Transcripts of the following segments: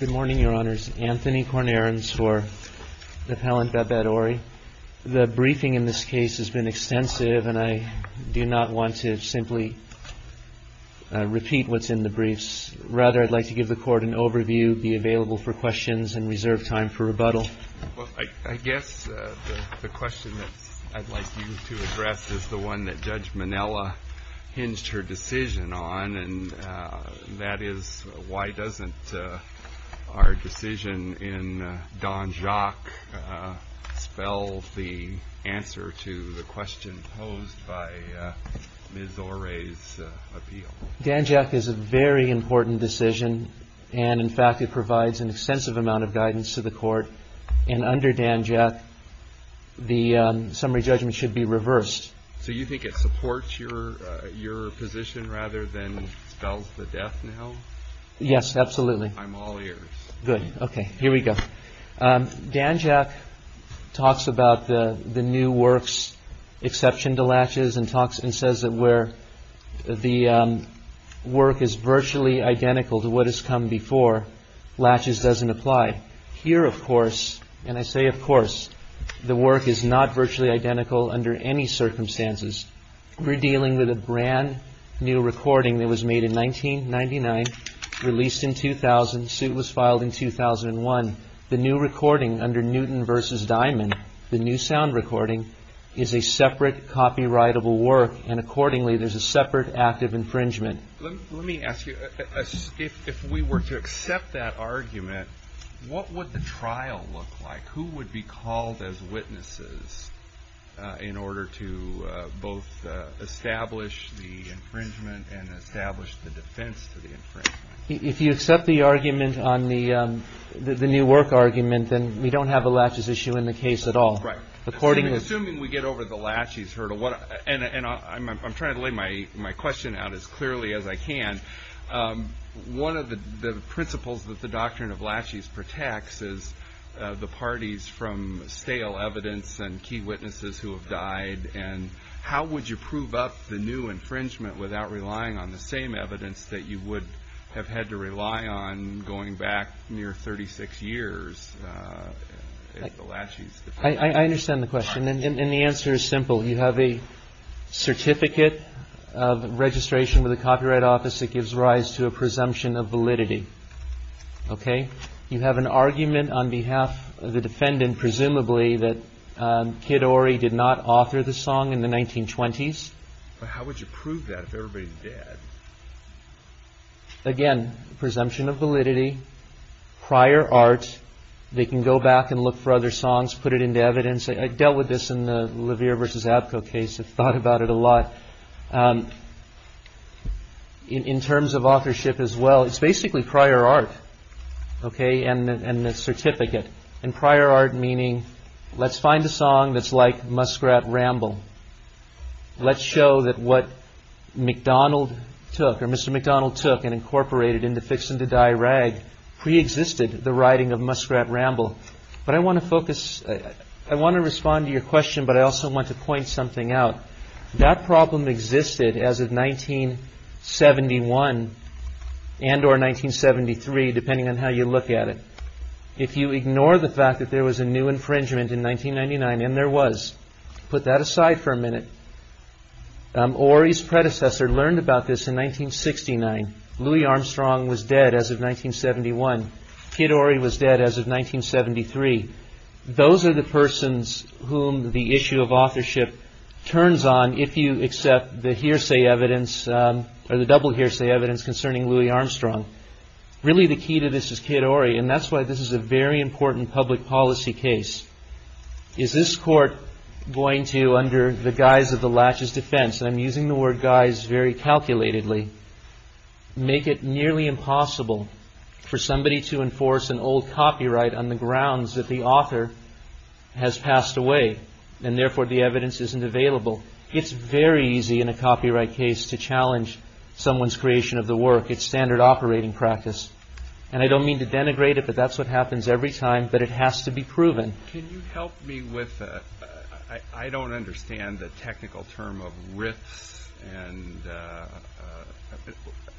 Good morning, Your Honors. Anthony Kornarens for Appellant Babette Ory. The briefing in this case has been extensive, and I do not want to simply repeat what's in the briefs. Rather, I'd like to give the Court an overview, be available for questions, and reserve time for rebuttal. Well, I guess the question that I'd like you to address is the one that Judge Minella hinged her decision on, and that is, why doesn't our decision in Danjaq spell the answer to the question posed by Ms. Ory's appeal? Danjaq is a very important decision, and in fact it provides an extensive amount of guidance to the Court. And under Danjaq, the summary judgment should be reversed. So you think it supports your position rather than spells the death now? Yes, absolutely. I'm all ears. Good. Okay, here we go. Danjaq talks about the new work's exception to laches and says that where the work is virtually identical to what has come before, laches doesn't apply. Here, of course, and I say of course, the work is not virtually identical under any circumstances. We're dealing with a brand-new recording that was made in 1999, released in 2000, suit was filed in 2001. The new recording under Newton v. Diamond, the new sound recording, is a separate copyrightable work, and accordingly there's a separate act of infringement. Let me ask you, if we were to accept that argument, what would the trial look like? Who would be called as witnesses in order to both establish the infringement and establish the defense to the infringement? If you accept the argument on the new work argument, then we don't have a laches issue in the case at all. Right. Assuming we get over the laches hurdle, and I'm trying to lay my question out as clearly as I can, one of the principles that the doctrine of laches protects is the parties from stale evidence and key witnesses who have died, and how would you prove up the new infringement without relying on the same evidence that you would have had to rely on going back near 36 years? I understand the question, and the answer is simple. You have a certificate of registration with the Copyright Office that gives rise to a presumption of validity. You have an argument on behalf of the defendant, presumably, that Kid Ori did not author the song in the 1920s. How would you prove that if everybody's dead? Again, presumption of validity, prior art. They can go back and look for other songs, put it into evidence. I dealt with this in the LeVere versus Abko case. I've thought about it a lot in terms of authorship as well. It's basically prior art. OK, and the certificate and prior art, meaning let's find a song that's like Muskrat Ramble. Let's show that what McDonald took, or Mr. McDonald took and incorporated into Fixin' to Die Rag preexisted the writing of Muskrat Ramble. But I want to focus, I want to respond to your question, but I also want to point something out. That problem existed as of 1971 and or 1973, depending on how you look at it. If you ignore the fact that there was a new infringement in 1999, and there was, put that aside for a minute. Ori's predecessor learned about this in 1969. Louis Armstrong was dead as of 1971. Kid Ori was dead as of 1973. Those are the persons whom the issue of authorship turns on if you accept the hearsay evidence or the double hearsay evidence concerning Louis Armstrong. Really, the key to this is Kid Ori, and that's why this is a very important public policy case. Is this court going to, under the guise of the latches defense, and I'm using the word guise very calculatedly, make it nearly impossible for somebody to enforce an old copyright on the grounds that the author has passed away and therefore the evidence isn't available? It's very easy in a copyright case to challenge someone's creation of the work. It's standard operating practice. And I don't mean to denigrate it, but that's what happens every time. But it has to be proven. Can you help me with that? I don't understand the technical term of riffs. And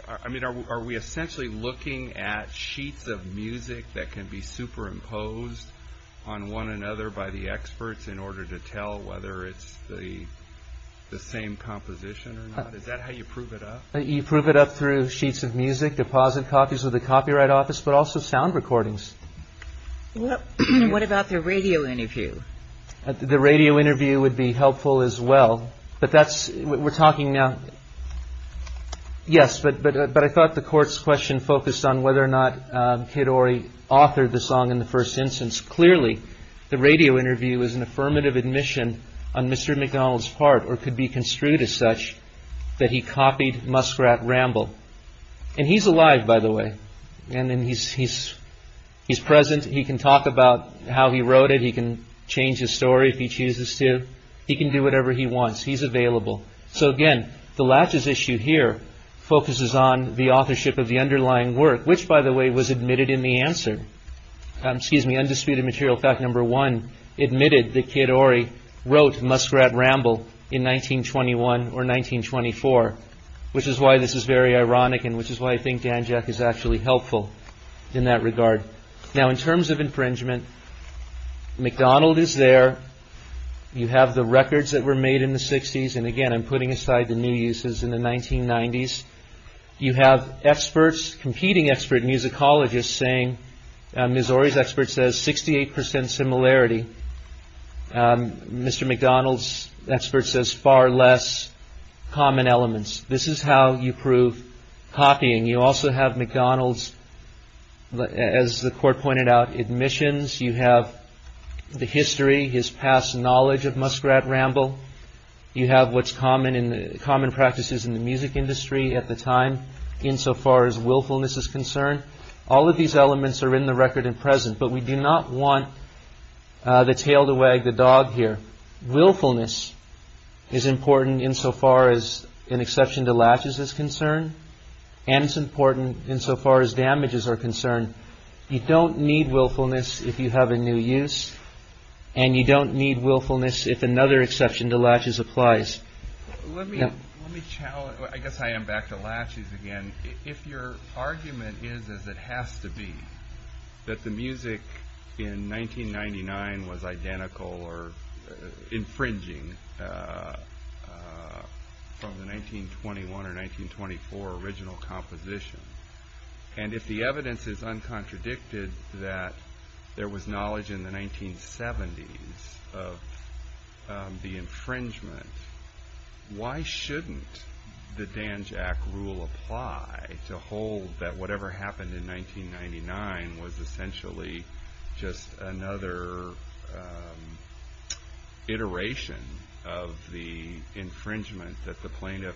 I mean, are we essentially looking at sheets of music that can be superimposed on one another by the experts in order to tell whether it's the same composition or not? Is that how you prove it up? You prove it up through sheets of music, deposit copies of the copyright office, but also sound recordings. What about the radio interview? The radio interview would be helpful as well. But that's what we're talking now. Yes, but I thought the court's question focused on whether or not Kid Ori authored the song in the first instance. Clearly, the radio interview is an affirmative admission on Mr. McDonald's part or could be construed as such that he copied Muskrat Ramble and he's alive, by the way. And then he's he's he's present. He can talk about how he wrote it. He can change his story if he chooses to. He can do whatever he wants. He's available. So, again, the latches issue here focuses on the authorship of the underlying work, which, by the way, was admitted in the answer. Excuse me, undisputed material. Fact number one admitted that Kid Ori wrote Muskrat Ramble in 1921 or 1924, which is why this is very ironic and which is why I think Dan Jack is actually helpful in that regard. Now, in terms of infringement, McDonald is there. You have the records that were made in the 60s. And again, I'm putting aside the new uses in the 1990s. You have experts, competing expert musicologists saying Missouri's expert says 68 percent similarity. Mr. McDonald's expert says far less common elements. This is how you prove copying. You also have McDonald's, as the court pointed out, admissions. You have the history, his past knowledge of Muskrat Ramble. You have what's common in common practices in the music industry at the time. Insofar as willfulness is concerned, all of these elements are in the record and present. But we do not want the tail to wag the dog here. Willfulness is important insofar as an exception to latches is concerned. And it's important insofar as damages are concerned. You don't need willfulness if you have a new use. And you don't need willfulness if another exception to latches applies. Let me challenge. I guess I am back to latches again. If your argument is, as it has to be, that the music in 1999 was identical or infringing from the 1921 or 1924 original composition. And if the evidence is uncontradicted that there was knowledge in the 1970s of the infringement, why shouldn't the Danjack Rule apply to hold that whatever happened in 1999 was essentially just another iteration of the infringement that the plaintiff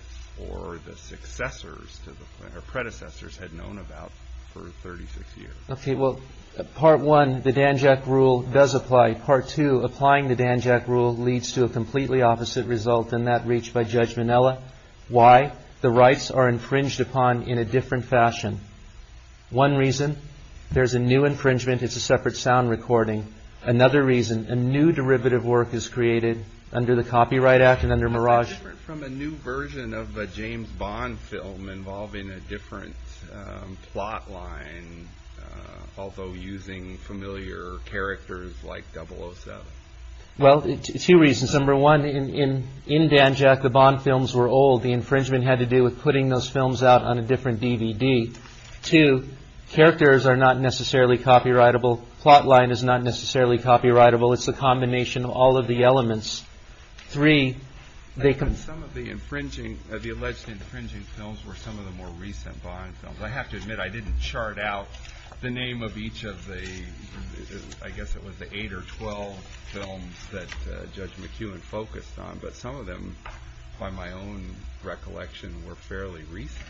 or the successors or predecessors had known about for 36 years? Okay. Well, part one, the Danjack Rule does apply. Part two, applying the Danjack Rule leads to a completely opposite result than that reached by Judge Minella. Why? The rights are infringed upon in a different fashion. One reason, there's a new infringement. It's a separate sound recording. Another reason, a new derivative work is created under the Copyright Act and under Mirage. It's different from a new version of a James Bond film involving a different plot line, although using familiar characters like 007. Well, two reasons. Number one, in Danjack, the Bond films were old. The infringement had to do with putting those films out on a different DVD. Two, characters are not necessarily copyrightable. Plot line is not necessarily copyrightable. It's the combination of all of the elements. Three, they can- Some of the infringing, the alleged infringing films were some of the more recent Bond films. I have to admit, I didn't chart out the name of each of the, I guess it was the eight or 12 films that Judge McEwen focused on, but some of them, by my own recollection, were fairly recent.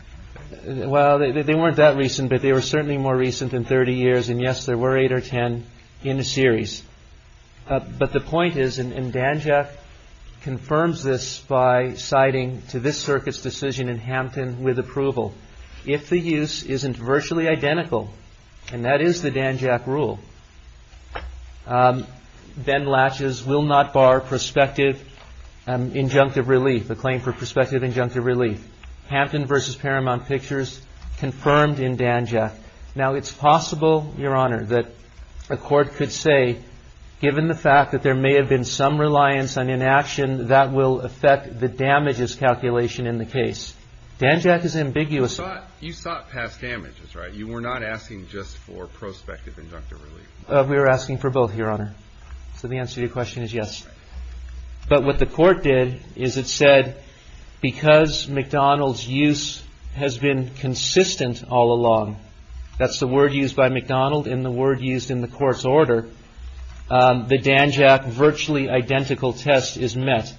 Well, they weren't that recent, but they were certainly more recent than 30 years. And yes, there were eight or 10 in a series. But the point is, and Danjack confirms this by citing to this circuit's decision in Hampton with approval, if the use isn't virtually identical, and that is the Danjack rule, Ben Latch's will not bar prospective injunctive relief, a claim for prospective injunctive relief. Hampton versus Paramount Pictures confirmed in Danjack. Now, it's possible, Your Honor, that a court could say, given the fact that there may have been some reliance on inaction, that will affect the damages calculation in the case. Danjack is ambiguous. You sought past damages, right? You were not asking just for prospective injunctive relief. We were asking for both, Your Honor. So the answer to your question is yes. But what the court did is it said, because McDonald's use has been consistent all along, that's the word used by McDonald and the word used in the court's order, the Danjack virtually identical test is met.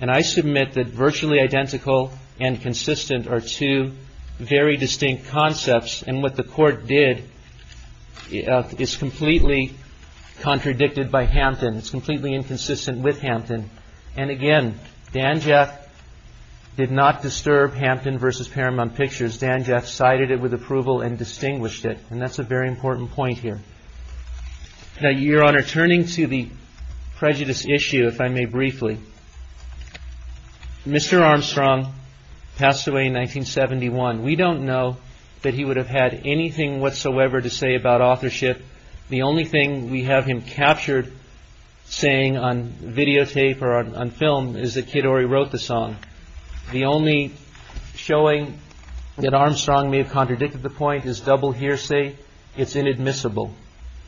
And I submit that virtually identical and consistent are two very distinct concepts. And what the court did is completely contradicted by Hampton. It's completely inconsistent with Hampton. And again, Danjack did not disturb Hampton versus Paramount Pictures. Danjack cited it with approval and distinguished it. And that's a very important point here. Now, Your Honor, turning to the prejudice issue, if I may briefly, Mr. Armstrong passed away in 1971. We don't know that he would have had anything whatsoever to say about authorship. The only thing we have him captured saying on videotape or on film is that Kid Ory wrote the song. The only showing that Armstrong may have contradicted the point is double hearsay. It's inadmissible.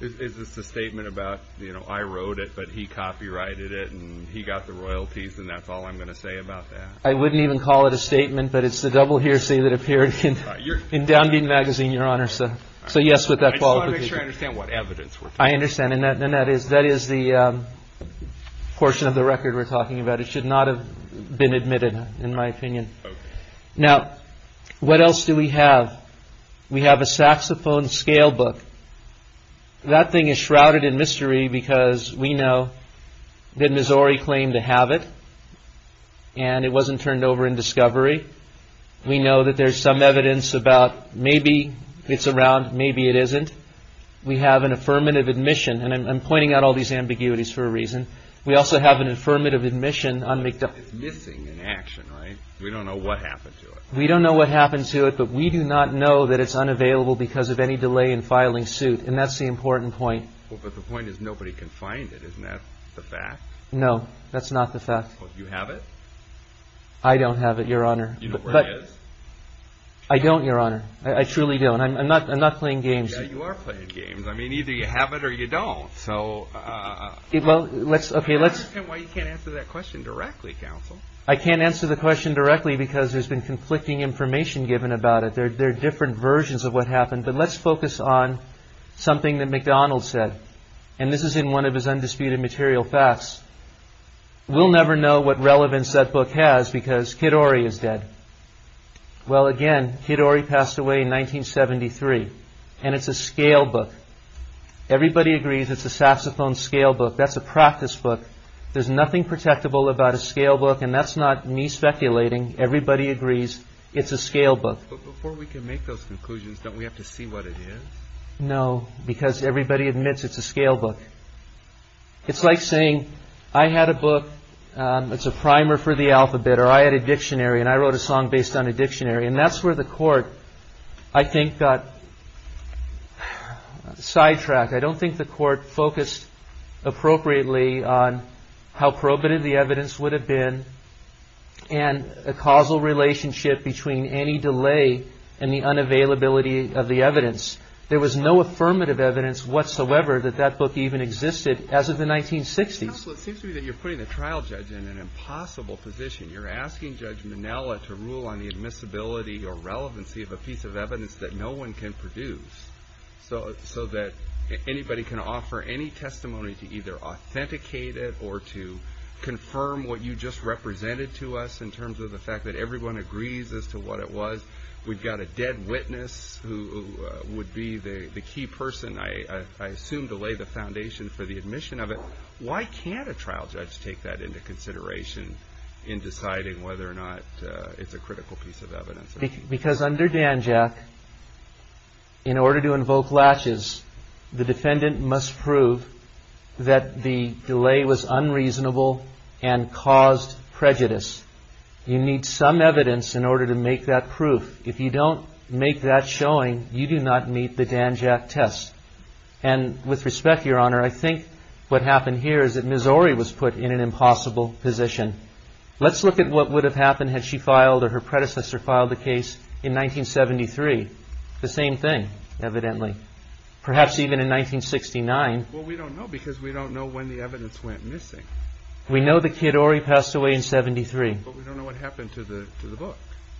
Is this a statement about, you know, I wrote it, but he copyrighted it and he got the royalties. And that's all I'm going to say about that. I wouldn't even call it a statement, but it's the double hearsay that appeared in Down Dean Magazine, Your Honor. So. So, yes, with that, I understand. And that is that is the portion of the record we're talking about. It should not have been admitted, in my opinion. Now, what else do we have? We have a saxophone scale book. That thing is shrouded in mystery because we know that Missouri claimed to have it and it wasn't turned over in discovery. We know that there's some evidence about maybe it's around. Maybe it isn't. We have an affirmative admission. And I'm pointing out all these ambiguities for a reason. We also have an affirmative admission. I'm missing an action. We don't know what happened to it. We don't know what happened to it, but we do not know that it's unavailable because of any delay in filing suit. And that's the important point. But the point is, nobody can find it. Isn't that the fact? No, that's not the fact. You have it. I don't have it, Your Honor. You know where it is? I don't, Your Honor. I truly don't. I'm not playing games. Yeah, you are playing games. I mean, either you have it or you don't. So. Well, let's. I understand why you can't answer that question directly, counsel. I can't answer the question directly because there's been conflicting information given about it. There are different versions of what happened. But let's focus on something that McDonald said. And this is in one of his Undisputed Material Facts. We'll never know what relevance that book has because Kidori is dead. Well, again, Kidori passed away in 1973. And it's a scale book. Everybody agrees it's a saxophone scale book. That's a practice book. There's nothing protectable about a scale book. And that's not me speculating. Everybody agrees it's a scale book. But before we can make those conclusions, don't we have to see what it is? No, because everybody admits it's a scale book. It's like saying I had a book. It's a primer for the alphabet or I had a dictionary and I wrote a song based on a dictionary. And that's where the court, I think, got sidetracked. I don't think the court focused appropriately on how probative the evidence would have been. And a causal relationship between any delay and the unavailability of the evidence. There was no affirmative evidence whatsoever that that book even existed as of the 1960s. Counsel, it seems to me that you're putting the trial judge in an impossible position. You're asking Judge Minella to rule on the admissibility or relevancy of a piece of evidence that no one can produce. So that anybody can offer any testimony to either authenticate it or to confirm what you just represented to us in terms of the fact that everyone agrees as to what it was. We've got a dead witness who would be the key person, I assume, to lay the foundation for the admission of it. Why can't a trial judge take that into consideration in deciding whether or not it's a critical piece of evidence? Because under DANJAC, in order to invoke latches, the defendant must prove that the delay was unreasonable and caused prejudice. You need some evidence in order to make that proof. If you don't make that showing, you do not meet the DANJAC test. And with respect, Your Honor, I think what happened here is that Ms. Ori was put in an impossible position. Let's look at what would have happened had she filed or her predecessor filed the case in 1973. The same thing, evidently. Perhaps even in 1969. Well, we don't know because we don't know when the evidence went missing. We know that Kid Ori passed away in 1973. But we don't know what happened to the book.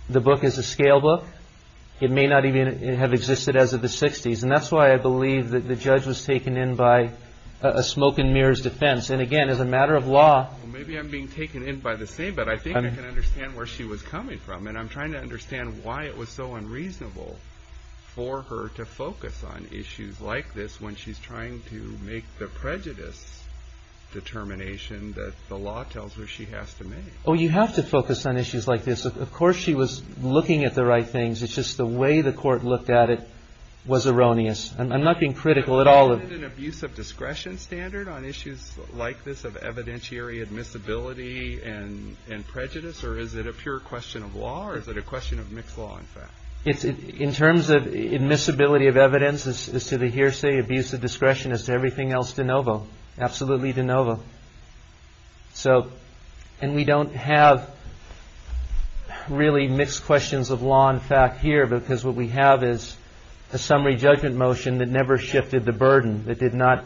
The book is a scale book. It may not even have existed as of the 60s. And that's why I believe that the judge was taken in by a smoke-and-mirrors defense. And again, as a matter of law... Maybe I'm being taken in by the same, but I think I can understand where she was coming from. And I'm trying to understand why it was so unreasonable for her to focus on issues like this when she's trying to make the prejudice determination that the law tells her she has to make. Oh, you have to focus on issues like this. Of course she was looking at the right things. It's just the way the court looked at it was erroneous. I'm not being critical at all of it. Is there an abuse of discretion standard on issues like this of evidentiary admissibility and prejudice? Or is it a pure question of law? Or is it a question of mixed law, in fact? In terms of admissibility of evidence as to the hearsay, abuse of discretion as to everything else, de novo. Absolutely de novo. And we don't have really mixed questions of law and fact here because what we have is a summary judgment motion that never shifted the burden, that did not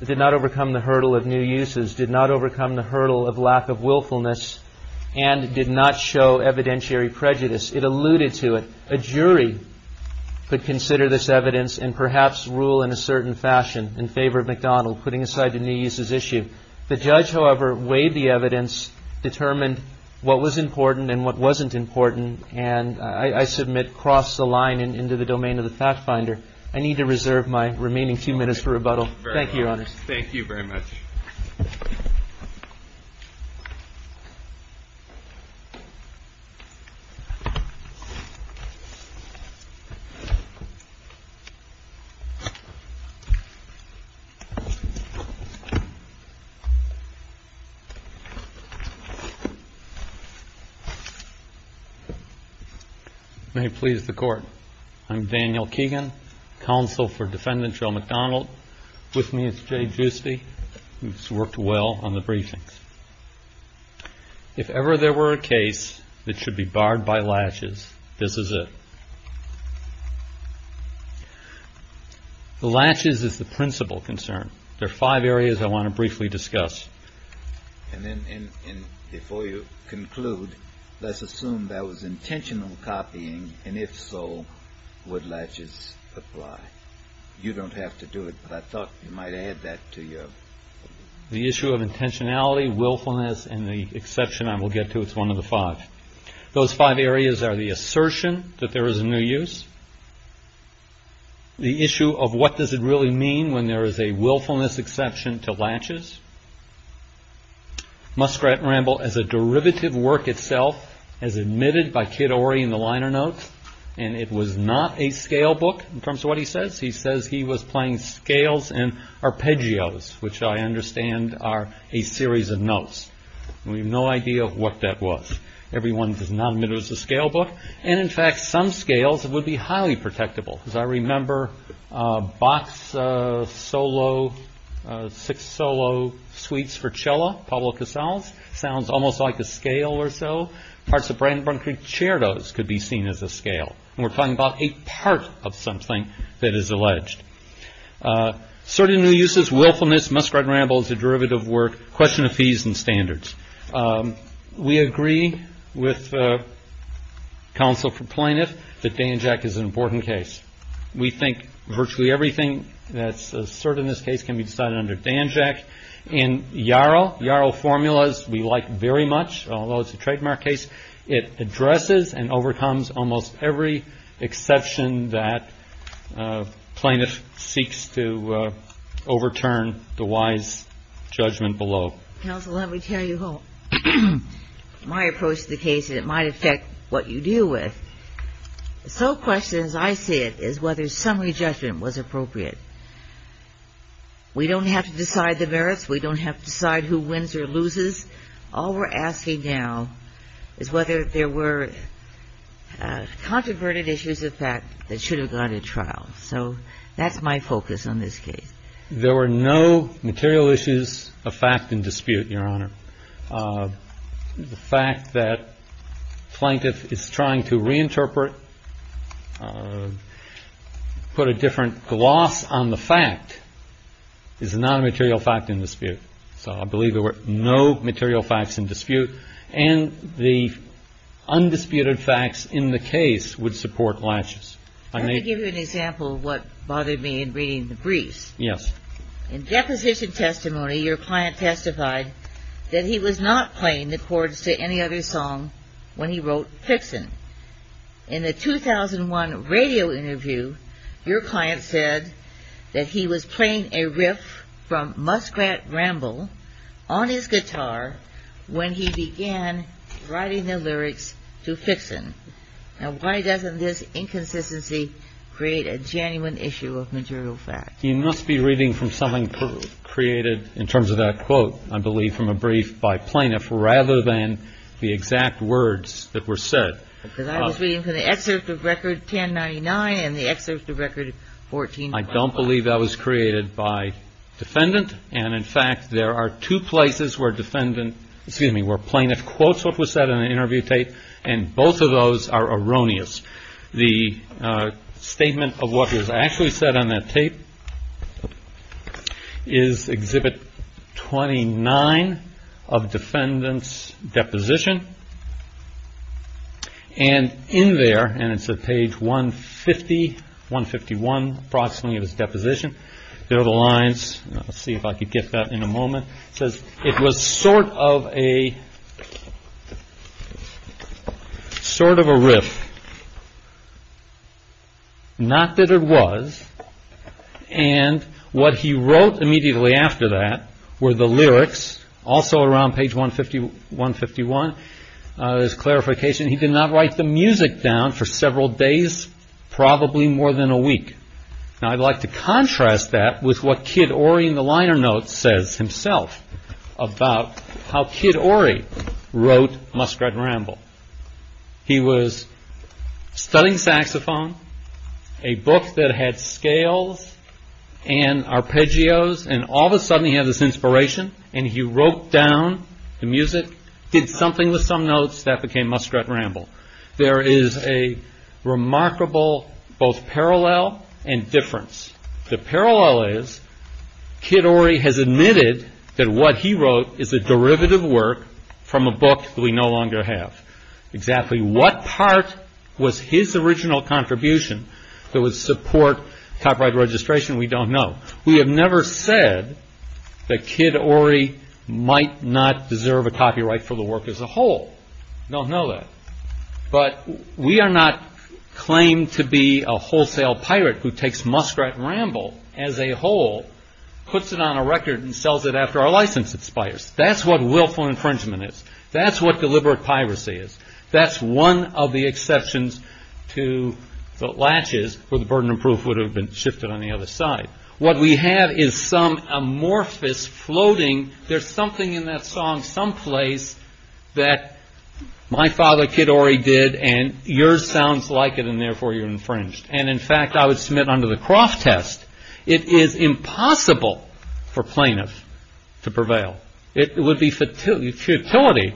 overcome the hurdle of new uses, did not overcome the hurdle of lack of willfulness, and did not show evidentiary prejudice. It alluded to it. A jury could consider this evidence and perhaps rule in a certain fashion in favor of McDonald, putting aside the new uses issue. The judge, however, weighed the evidence, determined what was important and what wasn't important, and I submit crossed the line into the domain of the fact finder. I need to reserve my remaining two minutes for rebuttal. Thank you, Your Honors. Thank you very much. May it please the Court. I'm Daniel Keegan, Counsel for Defendant Joe McDonald. With me is Jay Giusti, who's worked well on the briefings. If ever there were a case that should be barred by laches, this is it. The laches is the principal concern. There are five areas I want to briefly discuss. And then before you conclude, let's assume that was intentional copying, and if so, would laches apply? You don't have to do it, but I thought you might add that to your... The issue of intentionality, willfulness, and the exception I will get to. It's one of the five. Those five areas are the assertion that there is a new use, the issue of what does it really mean when there is a willfulness exception to laches, Muskrat and Ramble as a derivative work itself, as admitted by Kid Ory in the liner notes. And it was not a scale book, in terms of what he says. He says he was playing scales and arpeggios, which I understand are a series of notes. We have no idea what that was. Everyone does not admit it was a scale book. And in fact, some scales would be highly protectable. As I remember Bach's six solo suites for cello, Pablo Casals, sounds almost like a scale or so. Parts of Brandenburg Concertos could be seen as a scale. We're talking about a part of something that is alleged. Certain new uses, willfulness, Muskrat and Ramble as a derivative work, question of fees and standards. We agree with counsel for plaintiff that Danjak is an important case. We think virtually everything that's asserted in this case can be decided under Danjak. In Yarrow, Yarrow formulas we like very much, although it's a trademark case. It addresses and overcomes almost every exception that plaintiff seeks to overturn the wise judgment below. Counsel, let me tell you my approach to the case, and it might affect what you deal with. The sole question, as I see it, is whether summary judgment was appropriate. We don't have to decide the merits. We don't have to decide who wins or loses. All we're asking now is whether there were controverted issues of fact that should have gone to trial. So that's my focus on this case. There were no material issues of fact in dispute, Your Honor. The fact that plaintiff is trying to reinterpret, put a different gloss on the fact is not a material fact in dispute. So I believe there were no material facts in dispute. And the undisputed facts in the case would support latches. Let me give you an example of what bothered me in reading the briefs. Yes. In deposition testimony, your client testified that he was not playing the chords to any other song when he wrote Fixin. In the 2001 radio interview, your client said that he was playing a riff from Muskrat Ramble on his guitar when he began writing the lyrics to Fixin. Now, why doesn't this inconsistency create a genuine issue of material fact? You must be reading from something created in terms of that quote, I believe, from a brief by plaintiff rather than the exact words that were said. Because I was reading from the excerpt of Record 1099 and the excerpt of Record 14. I don't believe that was created by defendant. And in fact, there are two places where defendant, excuse me, where plaintiff quotes what was said in the interview tape. And both of those are erroneous. The statement of what was actually said on that tape is Exhibit 29 of defendant's deposition. And in there, and it's at page 150, 151 approximately of his deposition, there are the lines. I'll see if I can get that in a moment. It says, it was sort of a riff. Not that it was. And what he wrote immediately after that were the lyrics. Also around page 151, there's clarification. He did not write the music down for several days, probably more than a week. Now I'd like to contrast that with what Kid Ory in the liner notes says himself about how Kid Ory wrote Muskrat Ramble. He was studying saxophone, a book that had scales and arpeggios. And all of a sudden he had this inspiration and he wrote down the music, did something with some notes, that became Muskrat Ramble. There is a remarkable both parallel and difference. The parallel is Kid Ory has admitted that what he wrote is a derivative work from a book that we no longer have. Exactly what part was his original contribution that would support copyright registration, we don't know. We have never said that Kid Ory might not deserve a copyright for the work as a whole. Don't know that. But we are not claimed to be a wholesale pirate who takes Muskrat Ramble as a whole, puts it on a record and sells it after our license expires. That's what willful infringement is. That's what deliberate piracy is. That's one of the exceptions to the latches where the burden of proof would have been shifted on the other side. What we have is some amorphous floating. There's something in that song someplace that my father Kid Ory did and yours sounds like it and therefore you're infringed. And in fact, I would submit under the Croft test, it is impossible for plaintiffs to prevail. It would be futility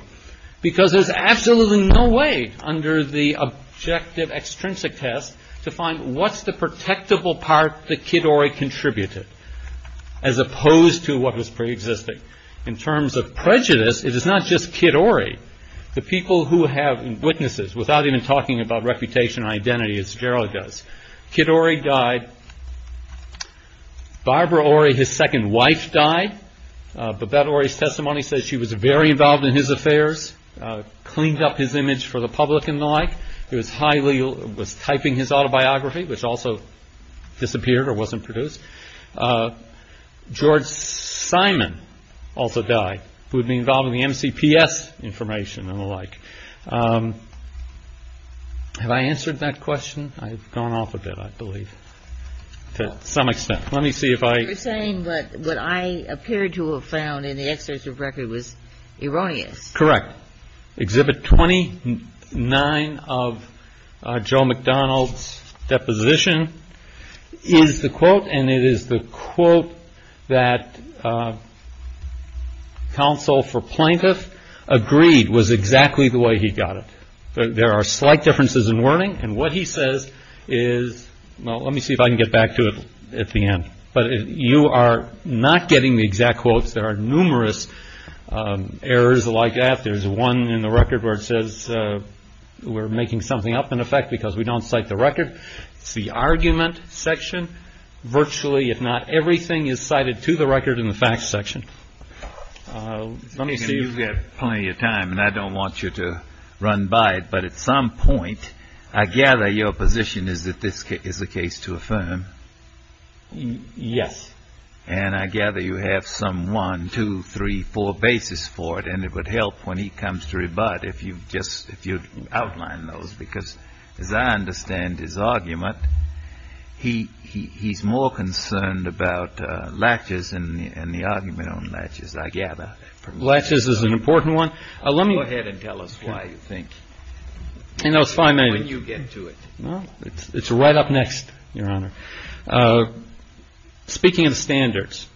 because there's absolutely no way under the objective extrinsic test to find what's the protectable part that Kid Ory contributed. As opposed to what was pre-existing. In terms of prejudice, it is not just Kid Ory. The people who have witnesses, without even talking about reputation or identity as Gerald does. Kid Ory died. Barbara Ory, his second wife, died. But that Ory's testimony says she was very involved in his affairs, cleaned up his image for the public and the like. Was typing his autobiography, which also disappeared or wasn't produced. George Simon also died, who would be involved in the MCPS information and the like. Have I answered that question? I've gone off a bit, I believe. To some extent. Let me see if I... You're saying what I appeared to have found in the excerpts of record was erroneous. Correct. Exhibit 29 of Joe McDonald's deposition is the quote, and it is the quote that counsel for plaintiff agreed was exactly the way he got it. There are slight differences in wording. And what he says is... Well, let me see if I can get back to it at the end. You are not getting the exact quotes. There are numerous errors like that. There's one in the record where it says we're making something up in effect because we don't cite the record. It's the argument section. Virtually, if not everything, is cited to the record in the facts section. Let me see if... You've got plenty of time, and I don't want you to run by it. But at some point, I gather your position is that this is a case to affirm. Yes. And I gather you have some one, two, three, four bases for it, and it would help when he comes to rebut if you'd outline those. Because as I understand his argument, he's more concerned about latches and the argument on latches, I gather. Latches is an important one. Go ahead and tell us why you think... No, it's fine. When you get to it. It's right up next, Your Honor. Speaking of standards,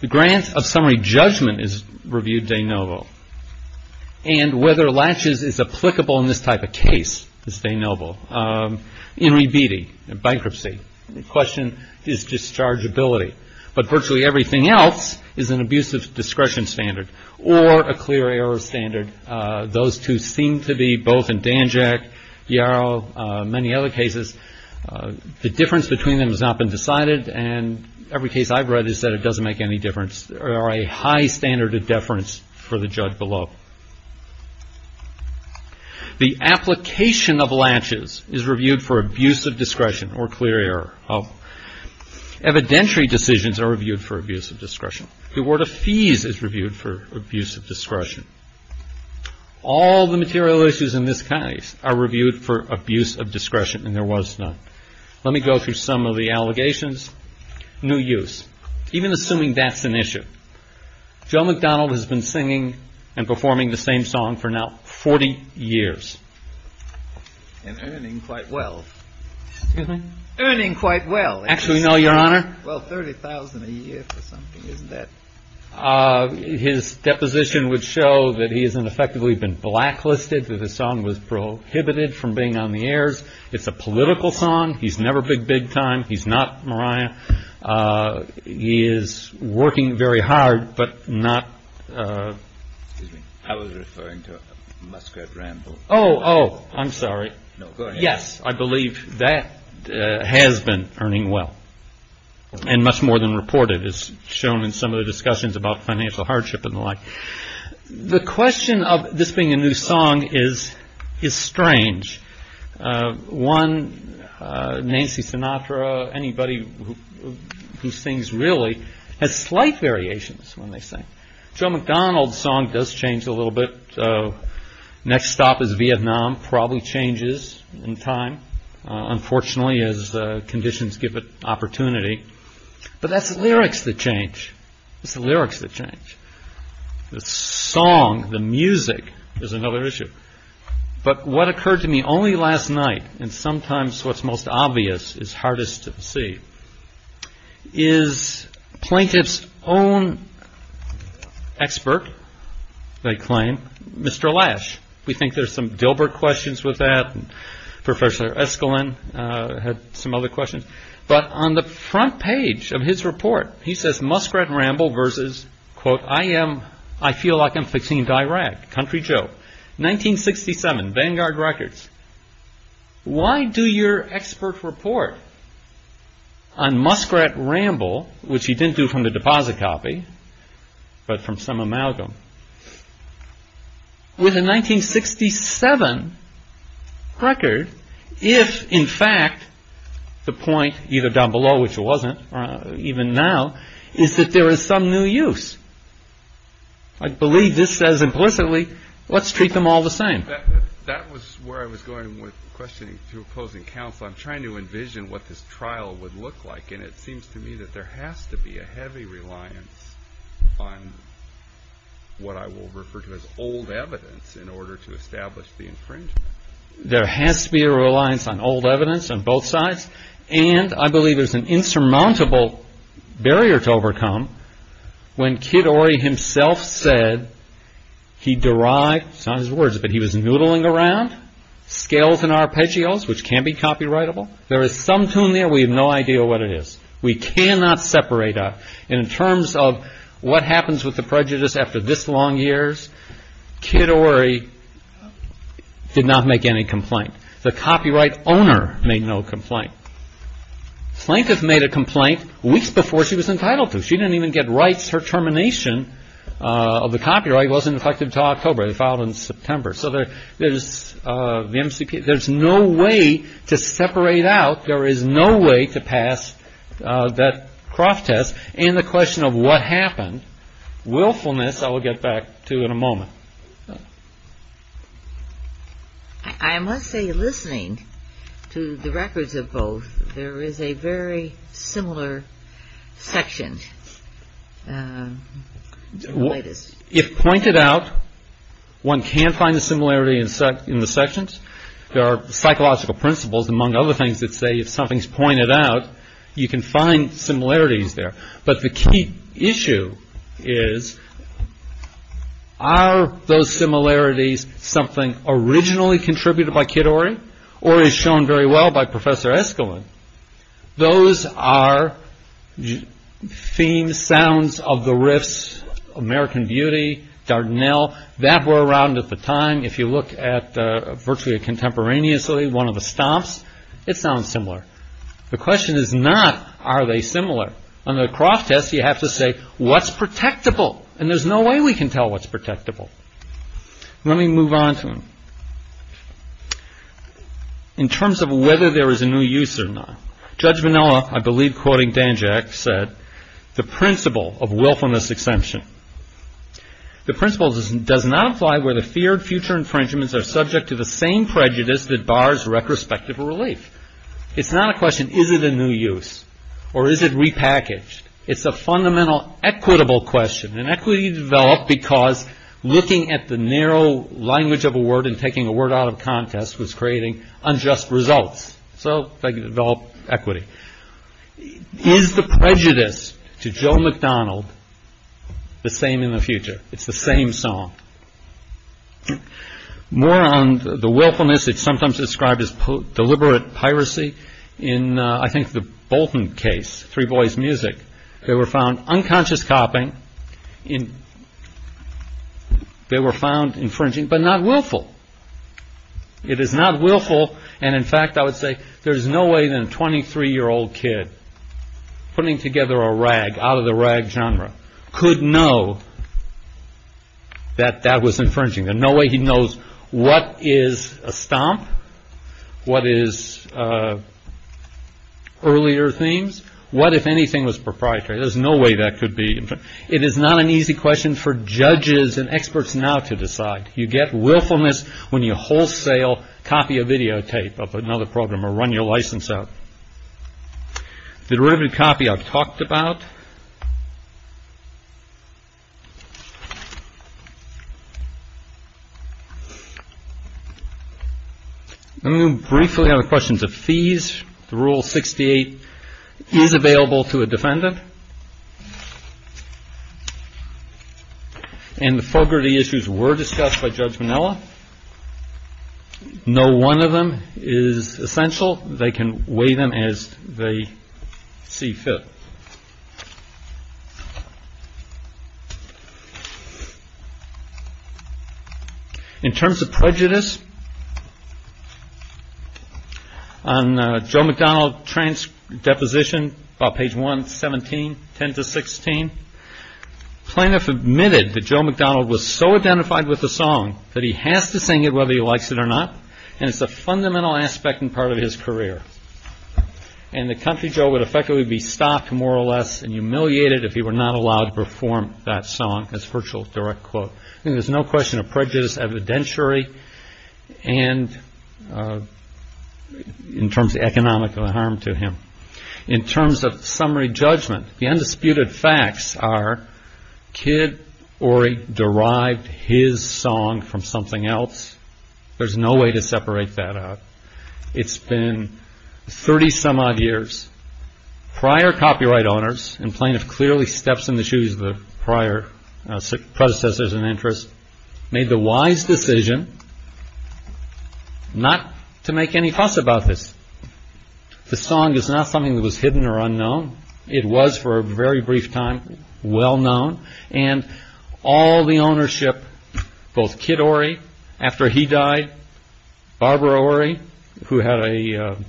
the grant of summary judgment is reviewed de novo. And whether latches is applicable in this type of case is de novo. In rebeating, in bankruptcy, the question is dischargeability. But virtually everything else is an abusive discretion standard or a clear error standard. Those two seem to be both in Danjak, Yarrow, many other cases. The difference between them has not been decided. And every case I've read has said it doesn't make any difference or a high standard of deference for the judge below. The application of latches is reviewed for abusive discretion or clear error. Evidentiary decisions are reviewed for abusive discretion. The award of fees is reviewed for abusive discretion. All the material issues in this case are reviewed for abuse of discretion. And there was none. Let me go through some of the allegations. New use. Even assuming that's an issue. Joe McDonald has been singing and performing the same song for now 40 years. And earning quite well. Excuse me? Earning quite well. Actually, no, Your Honor. Well, $30,000 a year for something, isn't it? His deposition would show that he has effectively been blacklisted. That his song was prohibited from being on the airs. It's a political song. He's never been big time. He's not Mariah. He is working very hard, but not... Excuse me. I was referring to Musgrave Ramble. Oh, oh. I'm sorry. No, go ahead. Yes, I believe that has been earning well. And much more than reported, as shown in some of the discussions about financial hardship and the like. The question of this being a new song is strange. One, Nancy Sinatra, anybody who sings really, has slight variations when they sing. Joe McDonald's song does change a little bit. Next stop is Vietnam. Probably changes in time. Unfortunately, as conditions give it opportunity. But that's the lyrics that change. It's the lyrics that change. The song, the music, is another issue. But what occurred to me only last night, and sometimes what's most obvious is hardest to see, is plaintiff's own expert, they claim, Mr. Lash. We think there's some Dilbert questions with that. Professor Eskalin had some other questions. But on the front page of his report, he says Musgrave Ramble versus, quote, I am, I feel like I'm fixing to Iraq. Country joke. 1967, Vanguard Records. Why do your expert report on Musgrave Ramble, which he didn't do from the deposit copy, but from some amalgam? With a 1967 record. If, in fact, the point either down below, which wasn't even now, is that there is some new use. I believe this says implicitly, let's treat them all the same. That was where I was going with questioning to opposing counsel. I'm trying to envision what this trial would look like. And it seems to me that there has to be a heavy reliance on what I will refer to as old evidence in order to establish the infringement. There has to be a reliance on old evidence on both sides. And I believe there's an insurmountable barrier to overcome. When Kid Ory himself said he derived, it's not his words, but he was noodling around scales and arpeggios, which can't be copyrightable. There is some tune there we have no idea what it is. We cannot separate out. In terms of what happens with the prejudice after this long years, Kid Ory did not make any complaint. The copyright owner made no complaint. Plaintiff made a complaint weeks before she was entitled to. She didn't even get rights. Her termination of the copyright wasn't effective until October. It was filed in September. So there's no way to separate out. There is no way to pass that Croft test. And the question of what happened, willfulness, I will get back to in a moment. I must say, listening to the records of both, there is a very similar section. If pointed out, one can find the similarity in the sections. There are psychological principles, among other things, that say if something is pointed out, you can find similarities there. But the key issue is, are those similarities something originally contributed by Kid Ory, or is shown very well by Professor Eskelen? Those are themes, sounds of the riffs, American Beauty, Dardanelle, that were around at the time. If you look at, virtually contemporaneously, one of the stomps, it sounds similar. The question is not, are they similar? On the Croft test, you have to say, what's protectable? And there's no way we can tell what's protectable. Let me move on to them. In terms of whether there is a new use or not, Judge Vanilla, I believe quoting Danjack, said, the principle of willfulness exemption. The principle does not apply where the feared future infringements are subject to the same prejudice that bars retrospective relief. It's not a question, is it a new use? Or is it repackaged? It's a fundamental equitable question. And equity developed because looking at the narrow language of a word and taking a word out of contest was creating unjust results. So they develop equity. Is the prejudice to Joe McDonald the same in the future? It's the same song. More on the willfulness, it's sometimes described as deliberate piracy. I think the Bolton case, Three Boys Music, they were found unconscious copying. They were found infringing but not willful. It is not willful. And in fact, I would say there is no way than a 23-year-old kid putting together a rag out of the rag genre could know that that was infringing. There's no way he knows what is a stomp, what is earlier themes, what if anything was proprietary. There's no way that could be infringing. It is not an easy question for judges and experts now to decide. You get willfulness when you wholesale copy a videotape of another program or run your license out. The derivative copy I've talked about. Briefly on the questions of fees, the Rule 68 is available to a defendant. And the fogarty issues were discussed by Judge Manilla. No one of them is essential. They can weigh them as they see fit. In terms of prejudice, on Joe McDonald's deposition about page 117, 10-16, plaintiff admitted that Joe McDonald was so identified with the song that he has to sing it whether he likes it or not. And it's a fundamental aspect and part of his career. And the country Joe would effectively be stopped, more or less, and humiliated if he were not allowed to perform that song. That's a virtual direct quote. There's no question of prejudice evidentiary in terms of economic harm to him. In terms of summary judgment, the undisputed facts are, he did or he derived his song from something else. There's no way to separate that out. It's been 30 some odd years. Prior copyright owners and plaintiff clearly steps in the shoes of the prior predecessors and interests, made the wise decision not to make any fuss about this. The song is not something that was hidden or unknown. It was, for a very brief time, well known. And all the ownership, both Kid Ory, after he died, Barbara Ory, who had an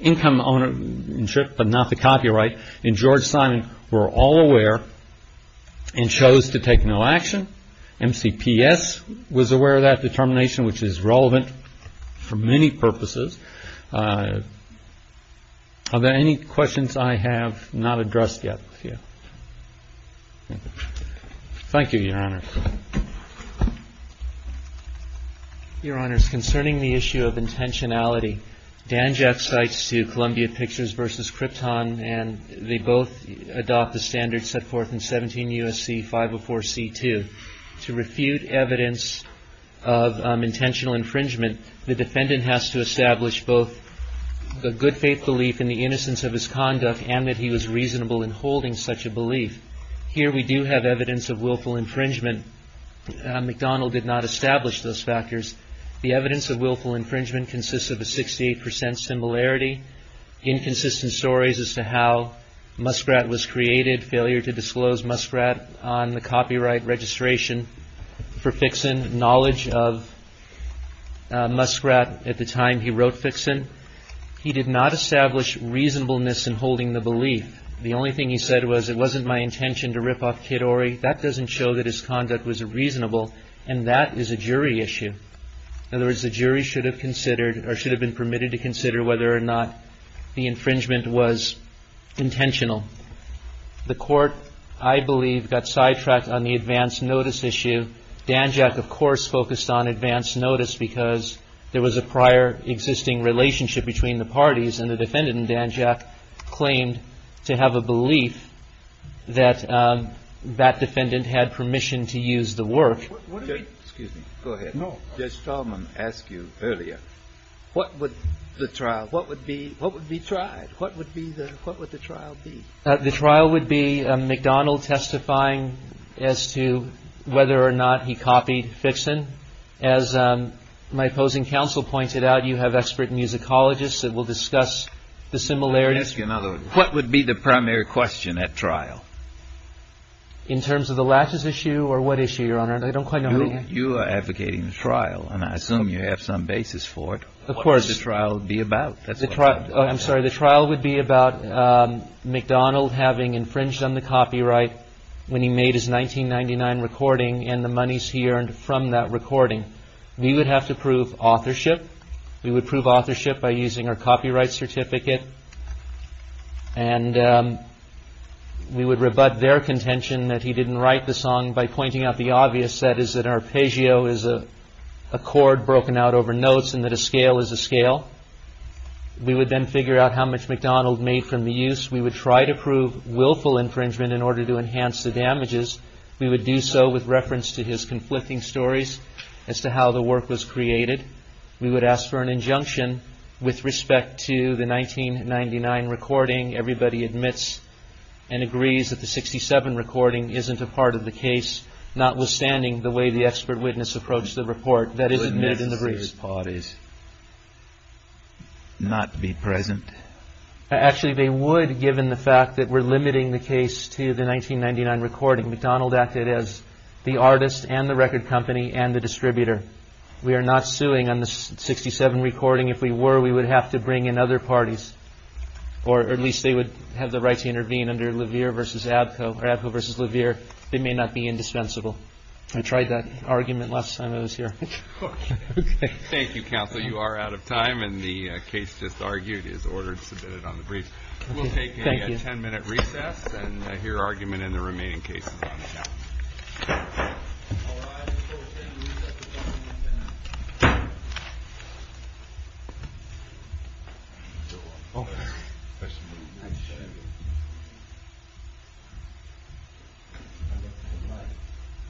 income ownership but not the copyright, and George Simon were all aware and chose to take no action. MCPS was aware of that determination, which is relevant for many purposes. Are there any questions I have not addressed yet? Thank you, Your Honor. Your Honors, concerning the issue of intentionality, Dan Jacks writes to Columbia Pictures versus Krypton, and they both adopt the standards set forth in 17 U.S.C. 504 C.2. To refute evidence of intentional infringement, the defendant has to establish both the good faith belief in the innocence of his conduct and that he was reasonable in holding such a belief. Here we do have evidence of willful infringement. McDonald did not establish those factors. The evidence of willful infringement consists of a 68 percent similarity, inconsistent stories as to how Muskrat was created, failure to disclose Muskrat on the copyright registration for Fixon, knowledge of Muskrat at the time he wrote Fixon. He did not establish reasonableness in holding the belief. The only thing he said was, it wasn't my intention to rip off Kid Ory. That doesn't show that his conduct was reasonable, and that is a jury issue. In other words, the jury should have considered or should have been permitted to consider whether or not the infringement was intentional. The Court, I believe, got sidetracked on the advance notice issue. Danjak, of course, focused on advance notice because there was a prior existing relationship between the parties, and the defendant in Danjak claimed to have a belief that that defendant had permission to use the work. Excuse me. Go ahead. Judge Tallman asked you earlier, what would the trial, what would be tried? What would the trial be? The trial would be McDonald testifying as to whether or not he copied Fixon. As my opposing counsel pointed out, you have expert musicologists that will discuss the similarities. Let me ask you another one. What would be the primary question at trial? In terms of the lashes issue or what issue, Your Honor? I don't quite know how to answer. You are advocating the trial, and I assume you have some basis for it. Of course. What would the trial be about? I'm sorry. The trial would be about McDonald having infringed on the copyright when he made his 1999 recording and the monies he earned from that recording. We would have to prove authorship. We would prove authorship by using our copyright certificate. And we would rebut their contention that he didn't write the song by pointing out the obvious. That is that arpeggio is a chord broken out over notes and that a scale is a scale. We would then figure out how much McDonald made from the use. We would try to prove willful infringement in order to enhance the damages. We would do so with reference to his conflicting stories as to how the work was created. We would ask for an injunction with respect to the 1999 recording. Everybody admits and agrees that the 67 recording isn't a part of the case, notwithstanding the way the expert witness approached the report that is admitted in the briefs. Would misuse parties not be present? Actually, they would, given the fact that we're limiting the case to the 1999 recording. McDonald acted as the artist and the record company and the distributor. We are not suing on the 67 recording. If we were, we would have to bring in other parties. Or at least they would have the right to intervene under Levere versus Abko. Abko versus Levere. They may not be indispensable. I tried that argument last time I was here. Thank you, counsel. You are out of time. And the case just argued is ordered, submitted on the brief. We'll take a ten-minute recess and hear argument in the remaining cases. Thank you.